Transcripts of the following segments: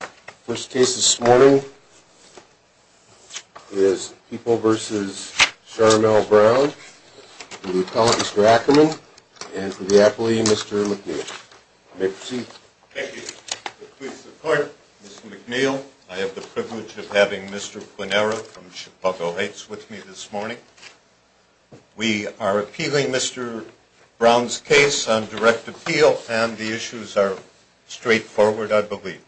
The first case this morning is People v. Charmel Brown for the appellant Mr. Ackerman and for the appellee Mr. McNeil. You may proceed. Thank you. With great support, Mr. McNeil. I have the privilege of having Mr. Plunera from Chicago Heights with me this morning. We are appealing Mr. Brown's case on direct appeal and the issues are straightforward, I believe.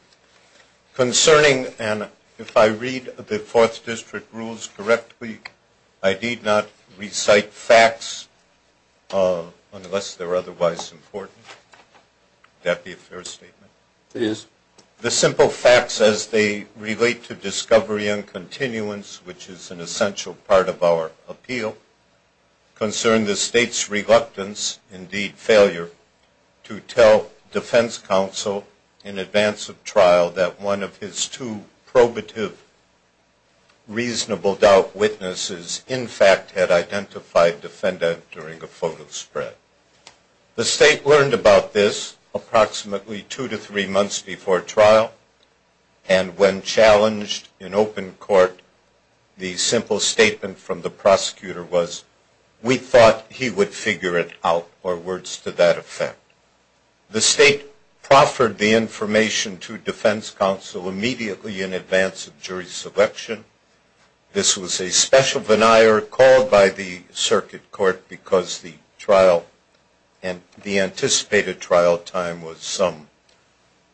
Concerning, and if I read the Fourth District rules correctly, I need not recite facts unless they're otherwise important. Would that be a fair statement? It is. The simple facts as they relate to discovery and continuance, which is an essential part of our appeal, concern the state's reluctance, indeed failure, to tell defense counsel in advance of trial that one of his two probative reasonable doubt witnesses in fact had identified defendant during a photo spread. The state learned about this approximately two to three months before trial and when challenged in open court the simple statement from the prosecutor was, we thought he would figure it out, or words to that effect. The state proffered the information to defense counsel immediately in advance of jury selection. This was a special veneer called by the circuit court because the trial and the anticipated trial time was some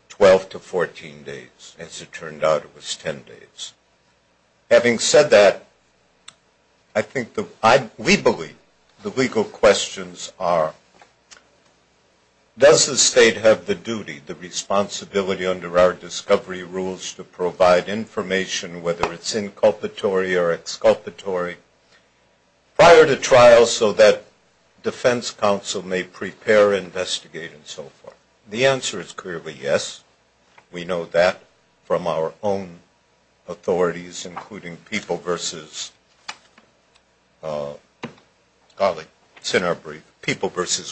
12 to 14 days. As it turned out, it was 10 days. Having said that, I think we believe the legal questions are, does the state have the duty, the responsibility under our discovery rules to provide information, whether it's inculpatory or exculpatory, prior to trial so that defense counsel may prepare, investigate, and so forth? The answer is clearly yes. We know that from our own authorities, including People v.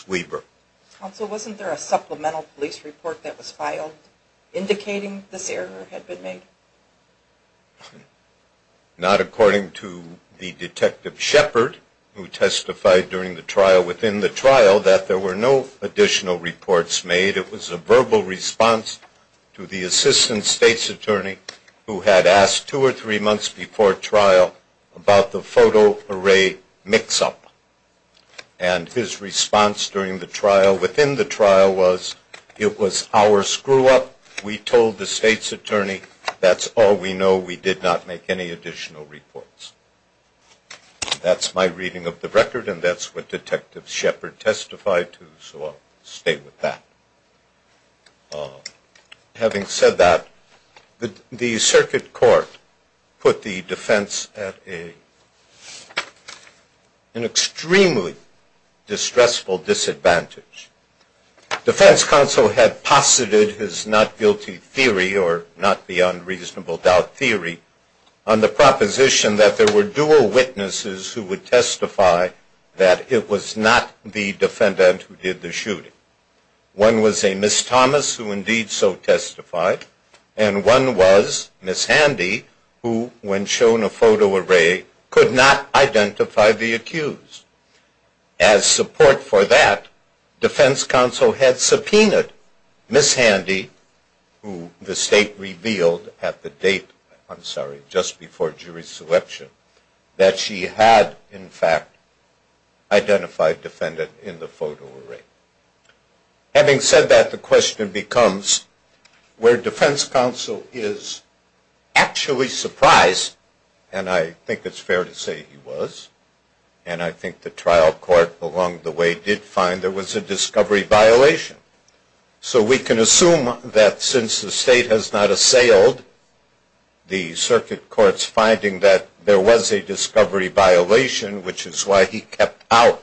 Weber. Counsel, wasn't there a supplemental police report that was filed indicating this error had been made? Not according to the detective Shepard, who testified during the trial within the trial, that there were no additional reports made. It was a verbal response to the assistant state's attorney who had asked two or three months before trial about the photo array mix-up. And his response during the trial within the trial was, it was our screw-up. We told the state's attorney. That's all we know. We did not make any additional reports. That's my reading of the record, and that's what Detective Shepard testified to, so I'll stay with that. Having said that, the circuit court put the defense at an extremely distressful disadvantage. Defense counsel had posited his not-guilty theory, or not-beyond-reasonable-doubt theory, on the proposition that there were dual witnesses who would testify that it was not the defendant who did the shooting. One was a Ms. Thomas, who indeed so testified, and one was Ms. Handy, who, when shown a photo array, could not identify the accused. As support for that, defense counsel had subpoenaed Ms. Handy, who the state revealed at the date, I'm sorry, just before jury selection, that she had, in fact, identified defendant in the photo array. Having said that, the question becomes where defense counsel is actually surprised, and I think it's fair to say he was, and I think the trial court along the way did find there was a discovery violation. So we can assume that since the state has not assailed the circuit court's finding that there was a discovery violation, which is why he kept out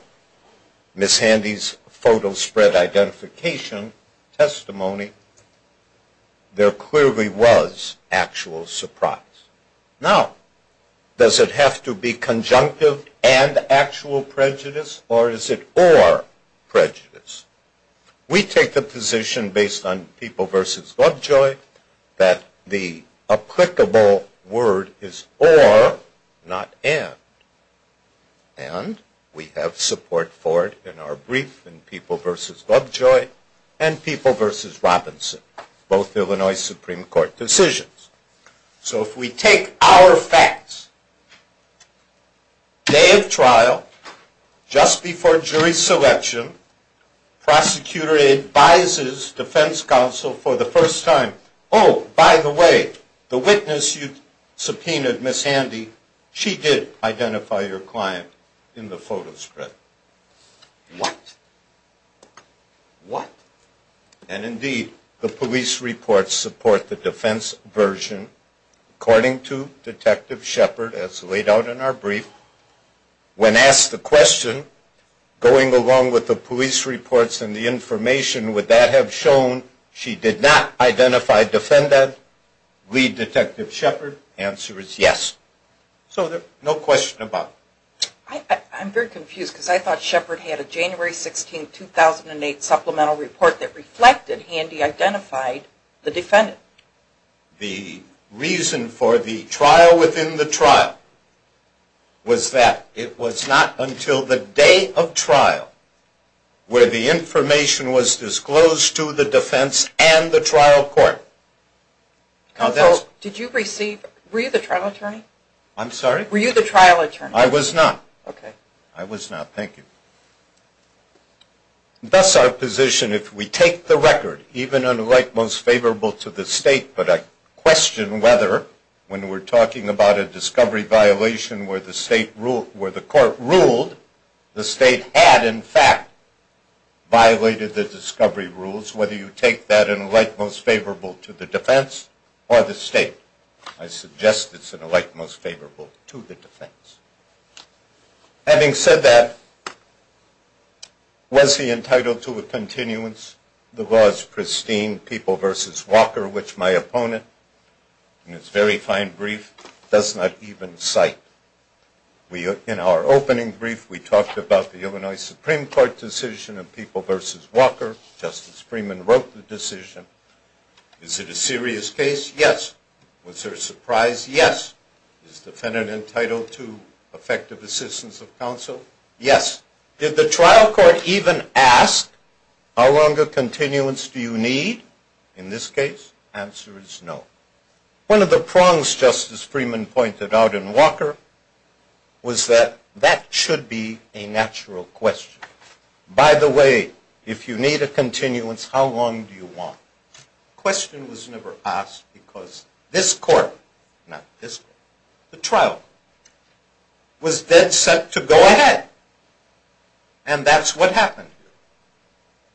Ms. Handy's photo spread identification testimony, there clearly was actual surprise. Now, does it have to be conjunctive and actual prejudice, or is it or prejudice? We take the position based on People v. Globjoy that the applicable word is or, not and. And we have support for it in our brief in People v. Globjoy and People v. Robinson, both Illinois Supreme Court decisions. So if we take our facts, day of trial, just before jury selection, prosecutor advises defense counsel for the first time, oh, by the way, the witness you subpoenaed, Ms. Handy, she did identify your client in the photo spread. What? What? And indeed, the police reports support the defense version. According to Detective Shepard, as laid out in our brief, when asked the question, going along with the police reports and the information, would that have shown she did not identify defendant, lead Detective Shepard, answer is yes. So there's no question about it. I'm very confused because I thought Shepard had a January 16, 2008 supplemental report that reflected Handy identified the defendant. The reason for the trial within the trial was that it was not until the day of trial where the information was disclosed to the defense and the trial court. Counsel, did you receive, were you the trial attorney? I'm sorry? Were you the trial attorney? I was not. Okay. I was not, thank you. Thus our position, if we take the record, even an elect most favorable to the state, but I question whether when we're talking about a discovery violation where the court ruled, the state had, in fact, violated the discovery rules, whether you take that an elect most favorable to the defense or the state. I suggest it's an elect most favorable to the defense. Having said that, was he entitled to a continuance? The law is pristine. People v. Walker, which my opponent, in its very fine brief, does not even cite. In our opening brief, we talked about the Illinois Supreme Court decision of People v. Walker. Justice Freeman wrote the decision. Is it a serious case? Yes. Was there a surprise? Yes. Is the defendant entitled to effective assistance of counsel? Yes. Did the trial court even ask, how long a continuance do you need? In this case, answer is no. One of the prongs Justice Freeman pointed out in Walker was that that should be a natural question. By the way, if you need a continuance, how long do you want? The question was never asked because this court, not this court, the trial, was dead set to go ahead. And that's what happened,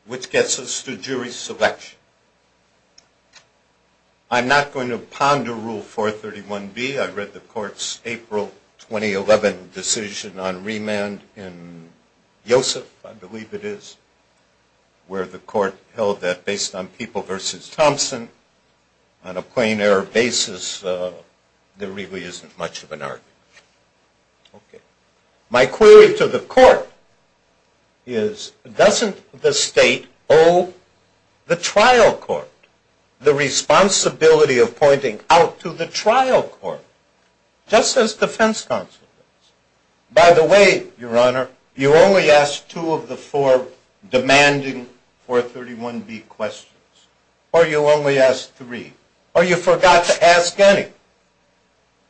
which gets us to jury selection. I'm not going to ponder Rule 431B. I read the court's April 2011 decision on remand in Yosef, I believe it is, where the court held that based on People v. Thompson, on a plain error basis, there really isn't much of an argument. Okay. My query to the court is, doesn't the state owe the trial court the responsibility of pointing out to the trial court, just as defense counsel does? By the way, Your Honor, you only asked two of the four demanding 431B questions. Or you only asked three. Or you forgot to ask any.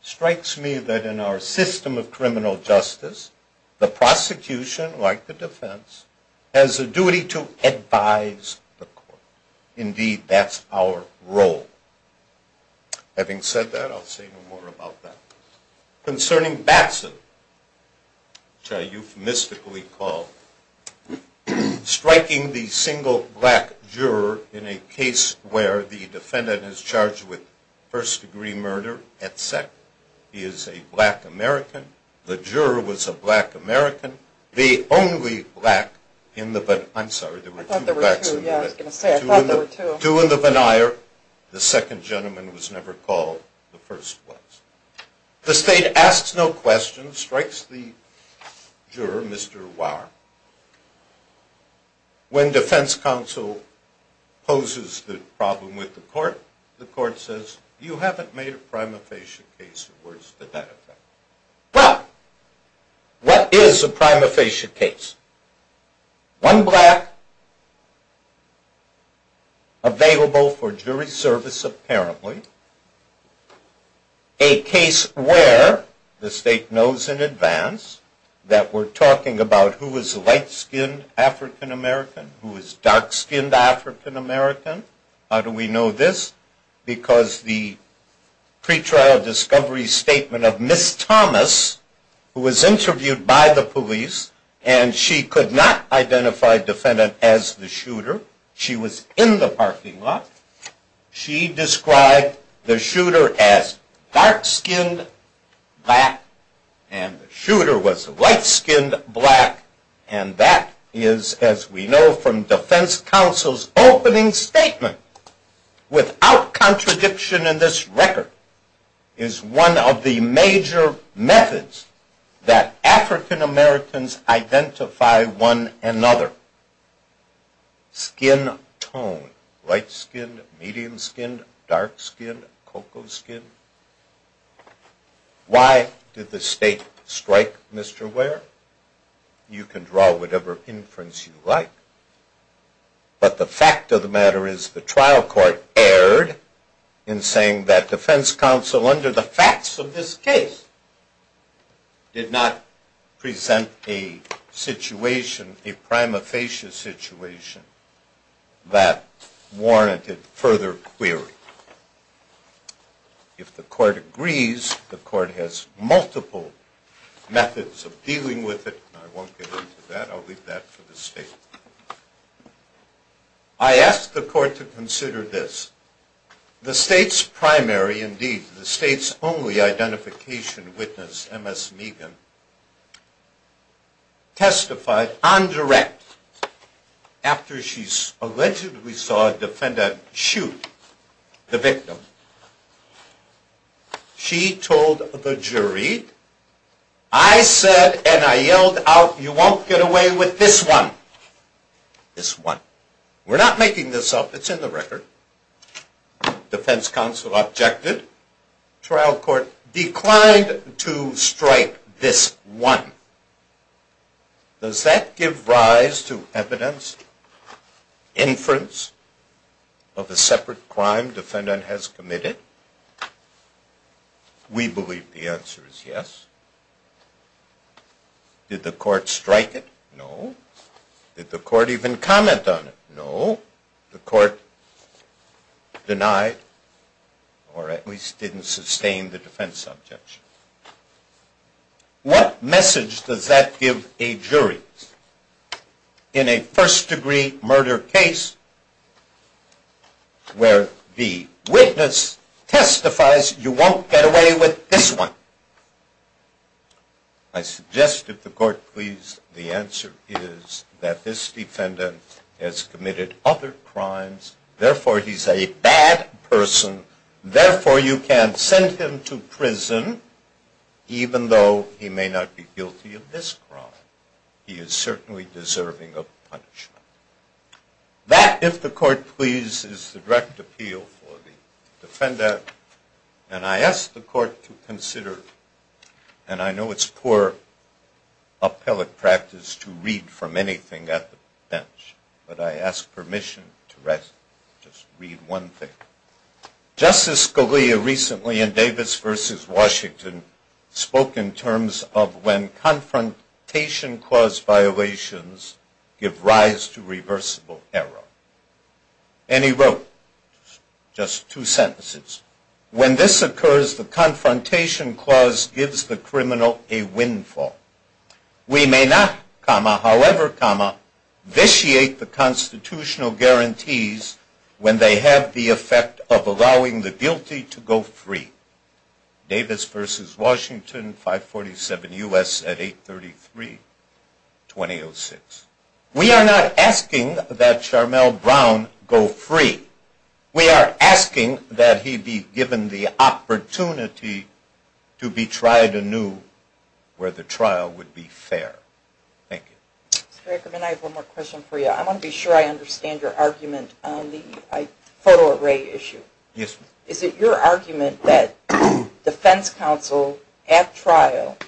Strikes me that in our system of criminal justice, the prosecution, like the defense, has a duty to advise the court. Indeed, that's our role. Having said that, I'll say no more about that. Concerning Batson, which I euphemistically call striking the single black juror in a case where the defendant is charged with first-degree murder at sec. He is a black American. The juror was a black American. The only black in the – I'm sorry, there were two blacks in the – I thought there were two, yeah. I was going to say, I thought there were two. The second gentleman was never called the first one. The state asks no questions, strikes the juror, Mr. Wauer. When defense counsel poses the problem with the court, the court says, you haven't made a prima facie case, or words to that effect. Well, what is a prima facie case? One black available for jury service, apparently. A case where the state knows in advance that we're talking about who is light-skinned African American, who is dark-skinned African American. How do we know this? Because the pretrial discovery statement of Ms. Thomas, who was interviewed by the police, and she could not identify defendant as the shooter. She was in the parking lot. She described the shooter as dark-skinned black, and the shooter was light-skinned black. And that is, as we know from defense counsel's opening statement, without contradiction in this record, is one of the major methods that African Americans identify one another. Skin tone, light-skinned, medium-skinned, dark-skinned, cocoa-skinned. Why did the state strike Mr. Wauer? You can draw whatever inference you like. But the fact of the matter is the trial court erred in saying that defense counsel, under the facts of this case, did not present a situation, a prima facie situation, that warranted further query. If the court agrees, the court has multiple methods of dealing with it. I won't get into that. I'll leave that for the state. I asked the court to consider this. The state's primary, indeed, the state's only identification witness, Ms. Megan, testified on direct after she allegedly saw a defendant shoot the victim. She told the jury, I said and I yelled out, you won't get away with this one. This one. We're not making this up. It's in the record. Defense counsel objected. Trial court declined to strike this one. Does that give rise to evidence, inference, of a separate crime defendant has committed? We believe the answer is yes. Did the court strike it? No. Did the court even comment on it? No. The court denied, or at least didn't sustain the defense objection. What message does that give a jury? In a first-degree murder case where the witness testifies, you won't get away with this one. I suggest, if the court please, the answer is that this defendant has committed other crimes. Therefore, he's a bad person. Therefore, you can send him to prison, even though he may not be guilty of this crime. He is certainly deserving of punishment. That, if the court please, is the direct appeal for the defendant. And I ask the court to consider, and I know it's poor appellate practice to read from anything at the bench, but I ask permission to rest, just read one thing. Justice Scalia recently in Davis v. Washington spoke in terms of when confrontation clause violations give rise to reversible error. And he wrote, just two sentences, when this occurs, the confrontation clause gives the criminal a windfall. We may not, however, vitiate the constitutional guarantees when they have the effect of allowing the guilty to go free. Davis v. Washington, 547 U.S. at 833, 2006. We are not asking that Charmel Brown go free. We are asking that he be given the opportunity to be tried anew where the trial would be fair. Thank you. Mr. Reckerman, I have one more question for you. I want to be sure I understand your argument on the photo array issue. Yes, ma'am. Is it your argument that defense counsel at trial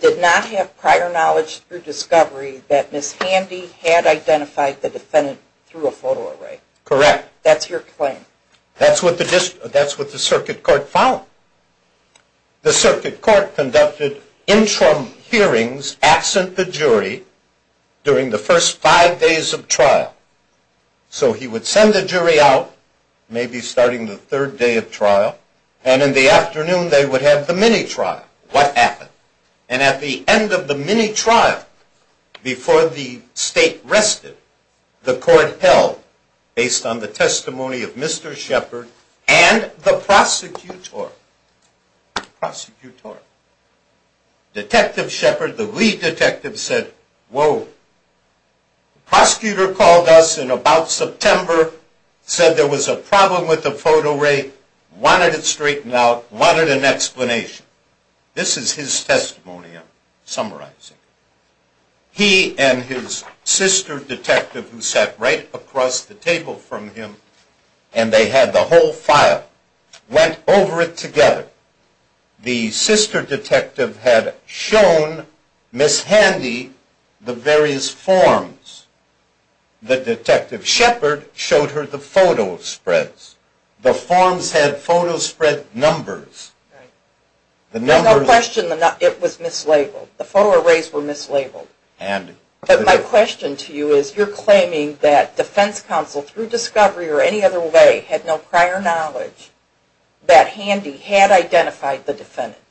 did not have prior knowledge through discovery that Ms. Handy had identified the defendant through a photo array? Correct. That's your claim? That's what the circuit court found. The circuit court conducted interim hearings absent the jury during the first five days of trial. So he would send the jury out, maybe starting the third day of trial, and in the afternoon they would have the mini-trial. What happened? And at the end of the mini-trial, before the state rested, the court held, based on the testimony of Mr. Shepard and the prosecutor. Detective Shepard, the lead detective, said, Whoa. The prosecutor called us in about September, said there was a problem with the photo array, wanted it straightened out, wanted an explanation. This is his testimony I'm summarizing. He and his sister detective, who sat right across the table from him, and they had the whole file, went over it together. The sister detective had shown Ms. Handy the various forms. The detective Shepard showed her the photo spreads. The forms had photo spread numbers. There's no question it was mislabeled. The photo arrays were mislabeled. My question to you is you're claiming that defense counsel, through discovery or any other way, had no prior knowledge that Handy, had identified the defendant.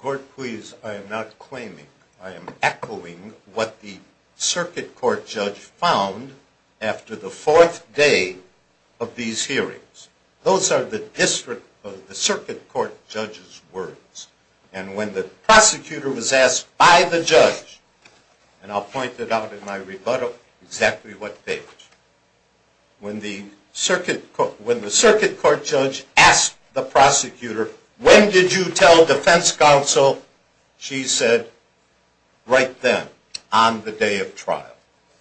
Court, please, I am not claiming. I am echoing what the circuit court judge found after the fourth day of these hearings. Those are the district of the circuit court judge's words. And when the prosecutor was asked by the judge, and I'll point it out in my rebuttal exactly what day it was, when the circuit court judge asked the prosecutor, when did you tell defense counsel? She said, right then, on the day of trial.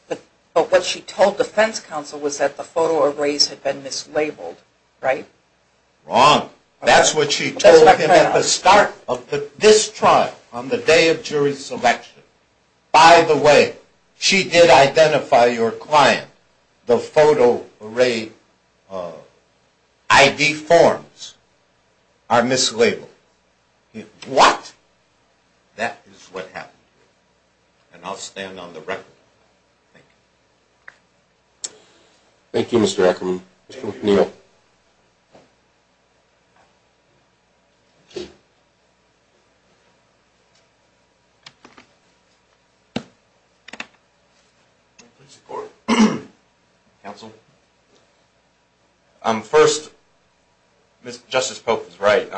But what she told defense counsel was that the photo arrays had been mislabeled, right? Wrong. That's what she told him at the start of this trial, on the day of jury selection. By the way, she did identify your client. The photo array ID forms are mislabeled. What? That is what happened. And I'll stand on the record. Thank you. Thank you, Mr. Ackerman. Mr. O'Neill. Please, the court. Counsel. First, Justice Pope is right.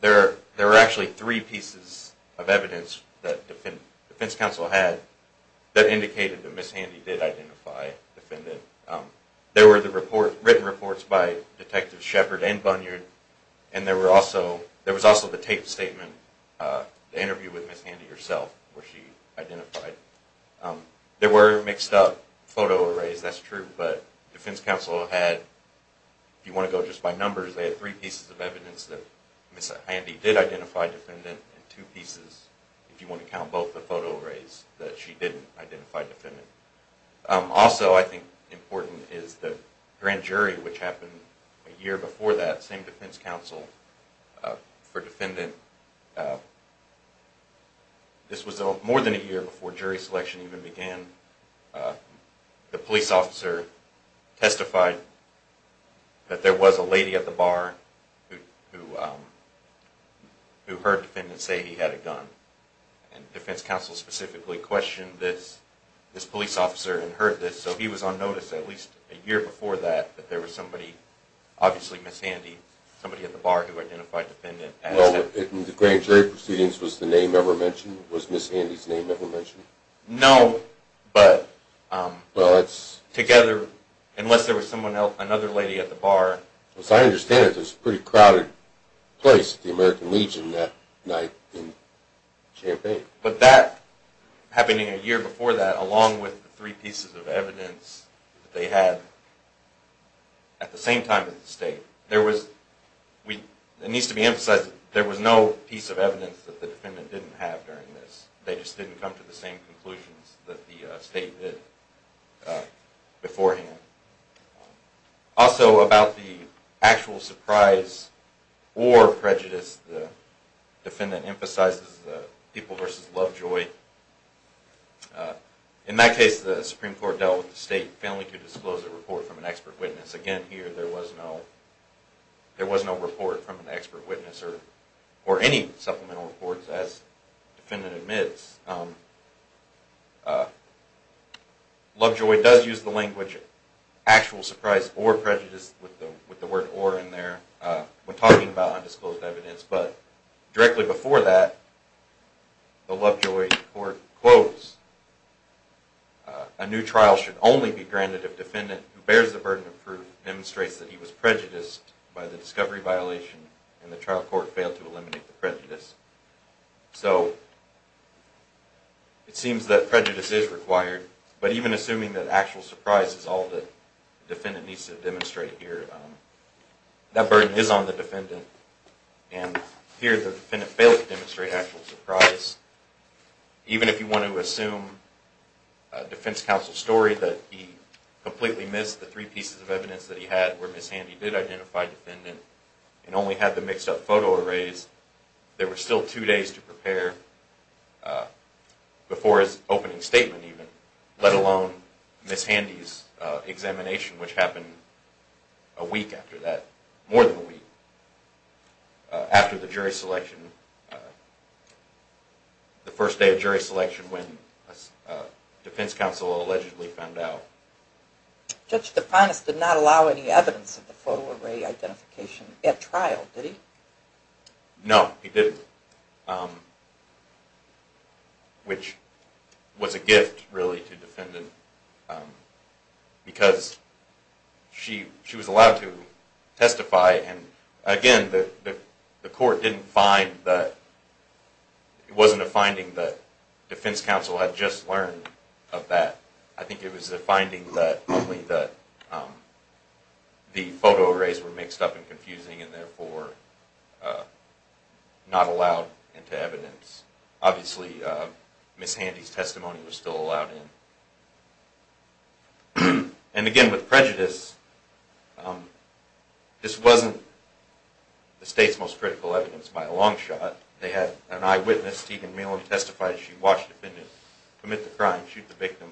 There are actually three pieces of evidence that defense counsel had that indicated that Ms. Handy did identify the defendant. There were the written reports by Detective Shepard and Bunyard, and there was also the taped statement, the interview with Ms. Handy herself, where she identified. There were mixed up photo arrays, that's true, but defense counsel had, if you want to go just by numbers, they had three pieces of evidence that Ms. Handy did identify the defendant, and two pieces, if you want to count both the photo arrays, that she didn't identify the defendant. Also I think important is the grand jury, which happened a year before that, same defense counsel for defendant. This was more than a year before jury selection even began. The police officer testified that there was a lady at the bar who heard the defendant say he had a gun, and defense counsel specifically questioned this police officer and heard this, so he was on notice at least a year before that that there was somebody, obviously Ms. Handy, somebody at the bar who identified the defendant. The grand jury proceedings, was the name ever mentioned? Was Ms. Handy's name ever mentioned? No, but together, unless there was another lady at the bar. As I understand it, there was a pretty crowded place at the American Legion that night in Champaign. But that, happening a year before that, along with the three pieces of evidence that they had at the same time as the state, there was, it needs to be emphasized, there was no piece of evidence that the defendant didn't have during this. They just didn't come to the same conclusions that the state did beforehand. Also about the actual surprise or prejudice, the defendant emphasizes the people versus Lovejoy. In that case, the Supreme Court dealt with the state failing to disclose a report from an expert witness. Again, here, there was no report from an expert witness or any supplemental reports, as the defendant admits. Lovejoy does use the language actual surprise or prejudice with the word or in there when talking about undisclosed evidence. But directly before that, the Lovejoy court quotes, a new trial should only be granted if the defendant who bears the burden of proof demonstrates that he was prejudiced by the discovery violation and the trial court failed to eliminate the prejudice. So, it seems that prejudice is required, but even assuming that actual surprise is all the defendant needs to demonstrate here, that burden is on the defendant, and here the defendant failed to demonstrate actual surprise. Even if you want to assume a defense counsel story that he completely missed the three pieces of evidence that he had where Miss Handy did identify the defendant and only had the mixed up photo arrays, there were still two days to prepare before his opening statement even, let alone Miss Handy's examination, which happened a week after that, more than a week, after the jury selection, the first day of jury selection when a defense counsel allegedly found out. Judge DePinas did not allow any evidence of the photo array identification at trial, did he? No, he didn't, which was a gift really to the defendant because she was allowed to testify and again, the court didn't find that, it wasn't a finding that defense counsel had just learned of that, I think it was a finding that only the photo arrays were mixed up and confusing and therefore not allowed into evidence. Obviously, Miss Handy's testimony was still allowed in. And again, with prejudice, this wasn't the state's most critical evidence by a long shot. They had an eyewitness, Steven Malin, testify, she watched the defendant commit the crime, shoot the victim,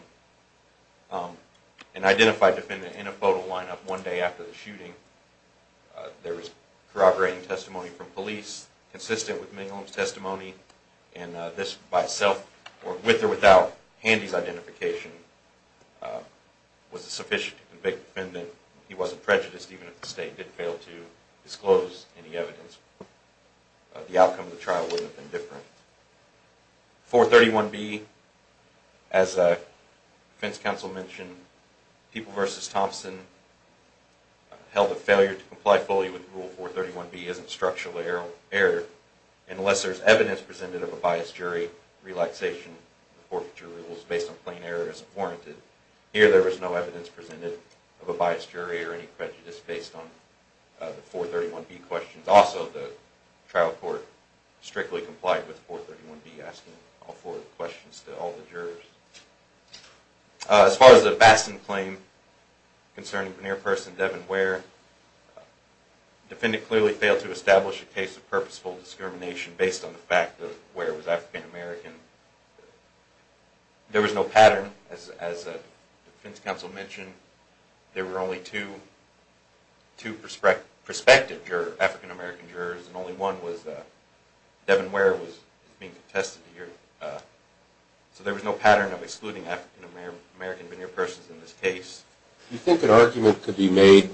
there was corroborating testimony from police consistent with Mingham's testimony and this by itself, with or without Handy's identification, was sufficient to convict the defendant. He wasn't prejudiced even if the state did fail to disclose any evidence. The outcome of the trial wouldn't have been different. 431B, as defense counsel mentioned, People v. Thompson held that failure to comply fully with Rule 431B isn't structural error unless there's evidence presented of a biased jury. Relaxation of the forfeiture rules based on plain error isn't warranted. Here, there was no evidence presented of a biased jury or any prejudice based on the 431B questions. Also, the trial court strictly complied with 431B, asking all four questions to all the jurors. As far as the Bastin claim concerning veneer person Devin Ware, the defendant clearly failed to establish a case of purposeful discrimination based on the fact that Ware was African-American. There was no pattern, as defense counsel mentioned, there were only two prospective African-American jurors and only one was Devin Ware was being contested here. So there was no pattern of excluding African-American veneer persons in this case. Do you think an argument could be made,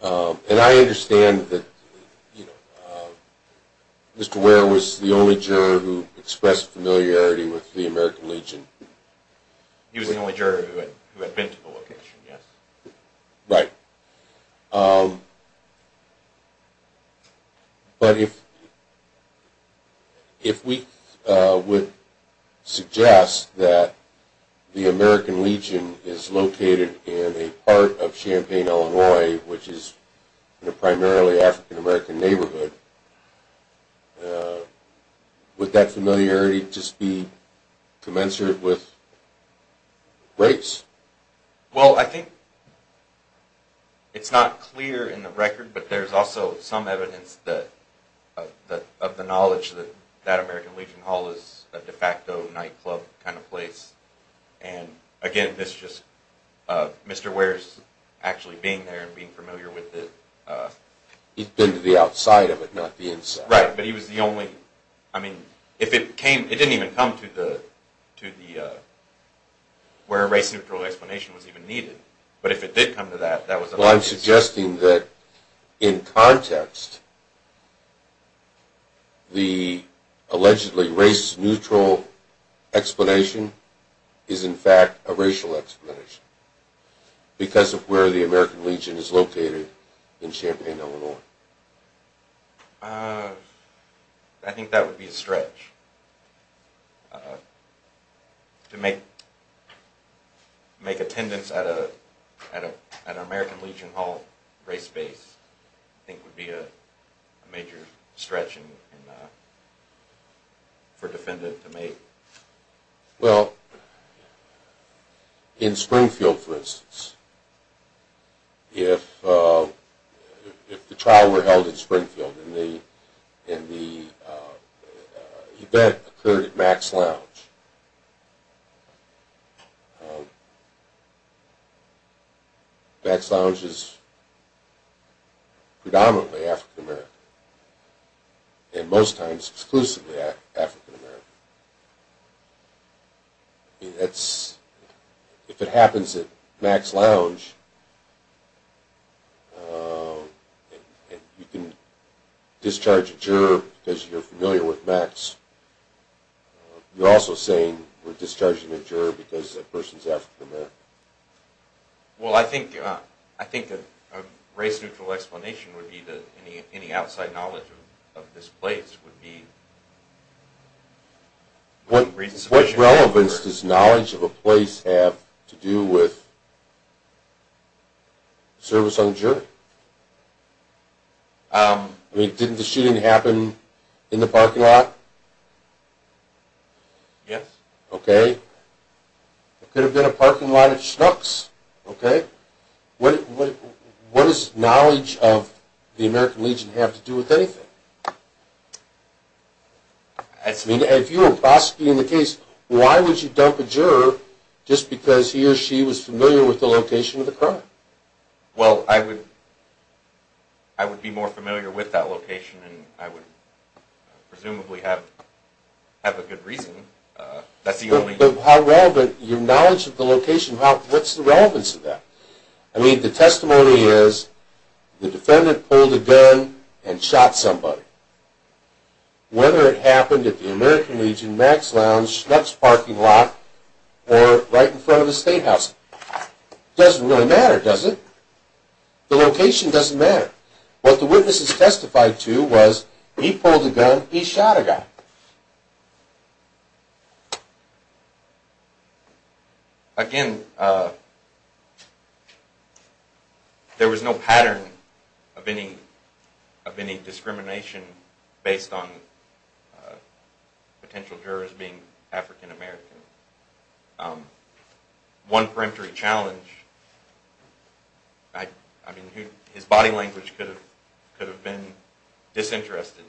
and I understand that Mr. Ware was the only juror who expressed familiarity with the American Legion? He was the only juror who had been to the location, yes. Right. But if we would suggest that the American Legion is located in a part of Champaign, Illinois, which is in a primarily African-American neighborhood, would that familiarity just be commensurate with race? Well, I think it's not clear in the record, but there's also some evidence of the knowledge that that American Legion Hall is a de facto nightclub kind of place. And again, this is just Mr. Ware's actually being there and being familiar with it. He's been to the outside of it, not the inside. Right, but he was the only... I mean, it didn't even come to where a race-neutral explanation was even needed. But if it did come to that, that was... Well, I'm suggesting that in context, the allegedly race-neutral explanation is in fact a racial explanation because of where the American Legion is located in Champaign, Illinois. I think that would be a stretch. To make attendance at an American Legion Hall race space I think would be a major stretch for a defendant to make. Well, in Springfield, for instance, if the trial were held in Springfield and the event occurred at Max Lounge, Max Lounge is predominantly African American and most times exclusively African American. If it happens at Max Lounge and you can discharge a juror because you're familiar with Max, you're also saying we're discharging a juror because that person's African American. Well, I think a race-neutral explanation would be that any outside knowledge of this place would be... What relevance does knowledge of a place have to do with service on jury? I mean, didn't the shooting happen in the parking lot? Yes. Okay. It could have been a parking lot at Schnucks. What does knowledge of the American Legion have to do with anything? If you were prosecuting the case, why would you dump a juror just because he or she was familiar with the location of the crime? Well, I would be more familiar with that location and I would presumably have a good reason. But your knowledge of the location, what's the relevance of that? I mean, the testimony is the defendant pulled a gun and shot somebody. Whether it happened at the American Legion, Max Lounge, Schnucks parking lot, or right in front of a state house, it doesn't really matter, does it? The location doesn't matter. What the witness has testified to was he pulled a gun, he shot a guy. Again, there was no pattern of any discrimination based on potential jurors being African American. One peremptory challenge, I mean, his body language could have been disinterested.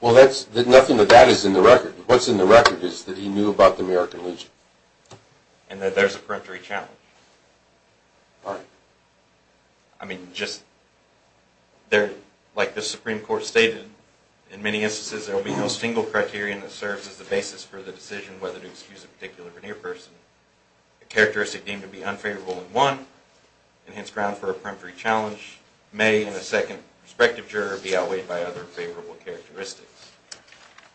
Well, nothing of that is in the record. What's in the record is that he knew about the American Legion. And that there's a peremptory challenge. Why? I mean, just like the Supreme Court stated, in many instances there will be no single criterion that serves as the basis for the decision whether to excuse a particular veneer person. A characteristic deemed to be unfavorable in one, and hence ground for a peremptory challenge. Which may, in a second perspective juror, be outweighed by other favorable characteristics.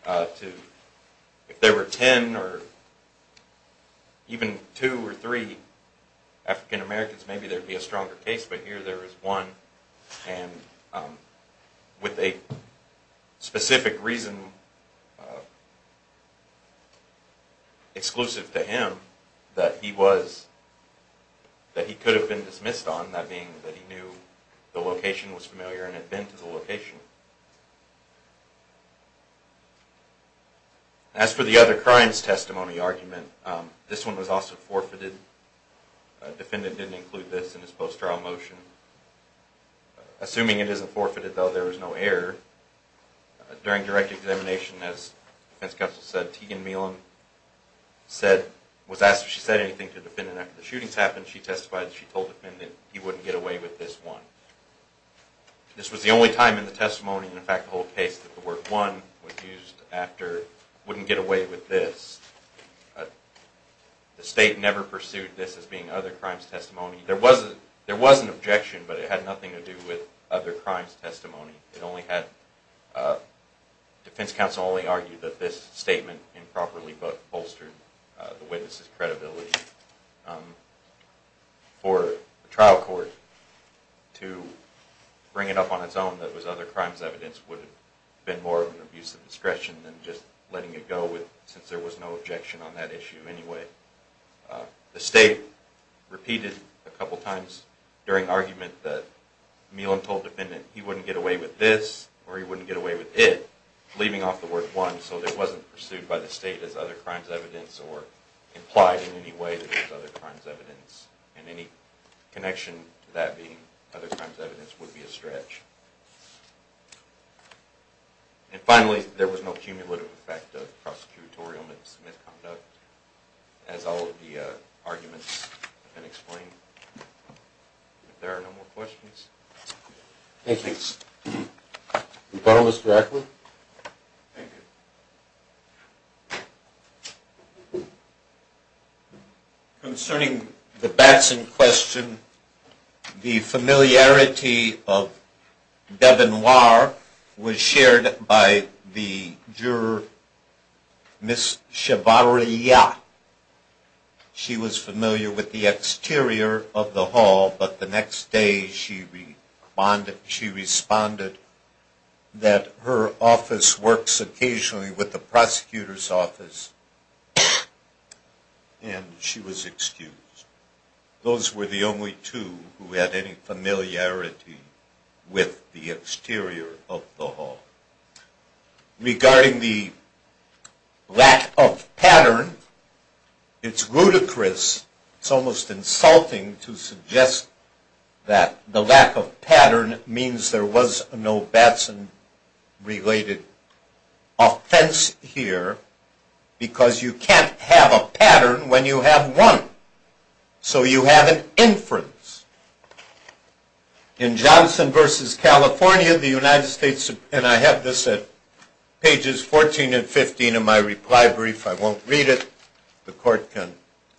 If there were ten or even two or three African Americans, maybe there would be a stronger case, but here there is one. And with a specific reason exclusive to him that he could have been dismissed on, that being that he knew the location was familiar and had been to the location. As for the other crimes testimony argument, this one was also forfeited. A defendant didn't include this in his post-trial motion. Assuming it isn't forfeited, though, there was no error. During direct examination, as defense counsel said, Teagan Meehlin was asked if she said anything to the defendant after the shootings happened. She testified that she told the defendant he wouldn't get away with this one. This was the only time in the testimony, and in fact the whole case, that the word one was used after wouldn't get away with this. The state never pursued this as being other crimes testimony. There was an objection, but it had nothing to do with other crimes testimony. Defense counsel only argued that this statement improperly bolstered the witness' credibility. For a trial court to bring it up on its own that it was other crimes evidence would have been more of an abuse of discretion than just letting it go, since there was no objection on that issue anyway. The state repeated a couple times during argument that Meehlin told the defendant he wouldn't get away with this or he wouldn't get away with it, leaving off the word one so it wasn't pursued by the state as other crimes evidence or implied in any way that it was other crimes evidence. Any connection to that being other crimes evidence would be a stretch. Finally, there was no cumulative effect of prosecutorial misconduct, as all of the arguments have been explained. If there are no more questions. Concerning the Batson question, the familiarity of Devenoir was shared by the juror, Ms. Chevarria. She was familiar with the exterior of the hall, but the next day she responded that her office works occasionally with the prosecutor's office, and she was excused. Those were the only two who had any familiarity with the exterior of the hall. Regarding the lack of pattern, it's ludicrous, it's almost insulting to suggest that the lack of pattern means there was no Batson-related offense here, because you can't have a pattern when you have one. So you have an inference. In Johnson v. California, the United States, and I have this at pages 14 and 15 in my reply brief, I won't read it, the court can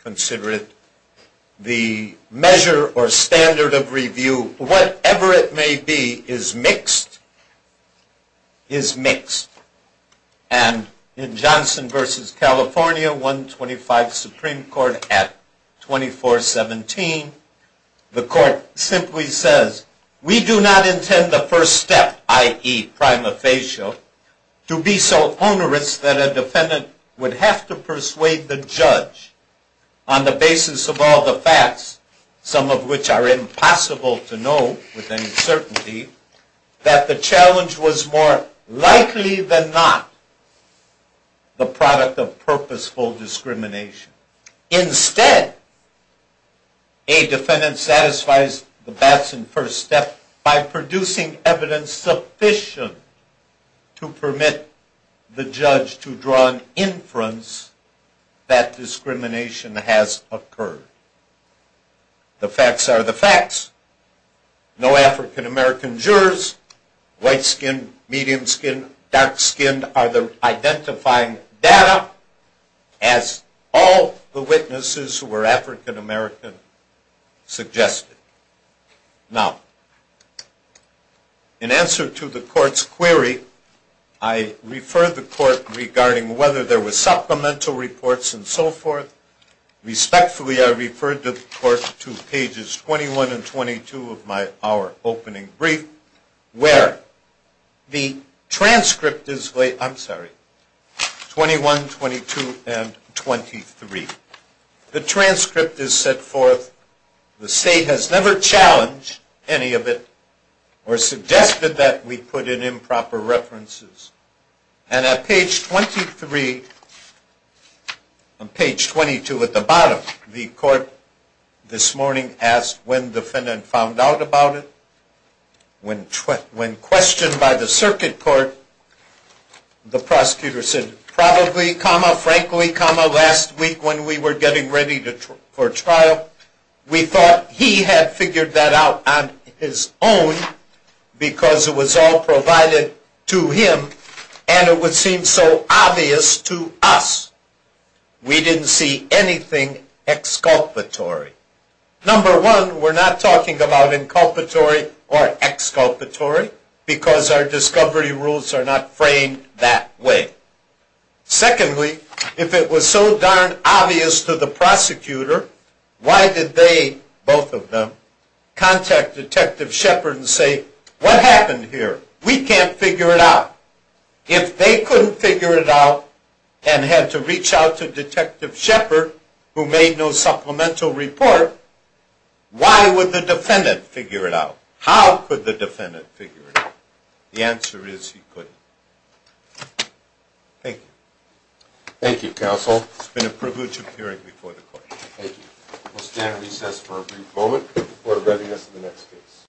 consider it, the measure or standard of review, whatever it may be, is mixed, is mixed. And in Johnson v. California, 125 Supreme Court at 2417, the court simply says, we do not intend the first step, i.e. prima facie, to be so onerous that a defendant would have to persuade the judge on the basis of all the facts, some of which are impossible to know with any certainty, that the challenge was more likely than not the product of purposeful discrimination. Instead, a defendant satisfies the Batson first step by producing evidence sufficient to permit the judge to draw an inference that discrimination has occurred. The facts are the facts. No African-American jurors, white-skinned, medium-skinned, dark-skinned, are identifying data as all the witnesses who were African-American suggested. Now, in answer to the court's query, I refer the court regarding whether there were I refer the court to pages 21 and 22 of our opening brief, where the transcript is laid, I'm sorry, 21, 22, and 23. The transcript is set forth, the state has never challenged any of it or suggested that we put in improper references. And at page 23, on page 22 at the bottom, the court this morning asked when the defendant found out about it. When questioned by the circuit court, the prosecutor said, probably, comma, frankly, comma, last week when we were getting ready for trial, we thought he had figured that out on his own because it was all provided to him and it would seem so obvious to us. We didn't see anything exculpatory. Number one, we're not talking about inculpatory or exculpatory because our discovery rules are not framed that way. Secondly, if it was so darn obvious to the prosecutor, why did they, both of them, contact Detective Shepard and say, what happened here? We can't figure it out. If they couldn't figure it out and had to reach out to Detective Shepard, who made no supplemental report, why would the defendant figure it out? How could the defendant figure it out? The answer is he couldn't. Thank you. Thank you, counsel. It's been a privilege appearing before the court. Thank you. We'll stand at recess for a brief moment before directing us to the next case.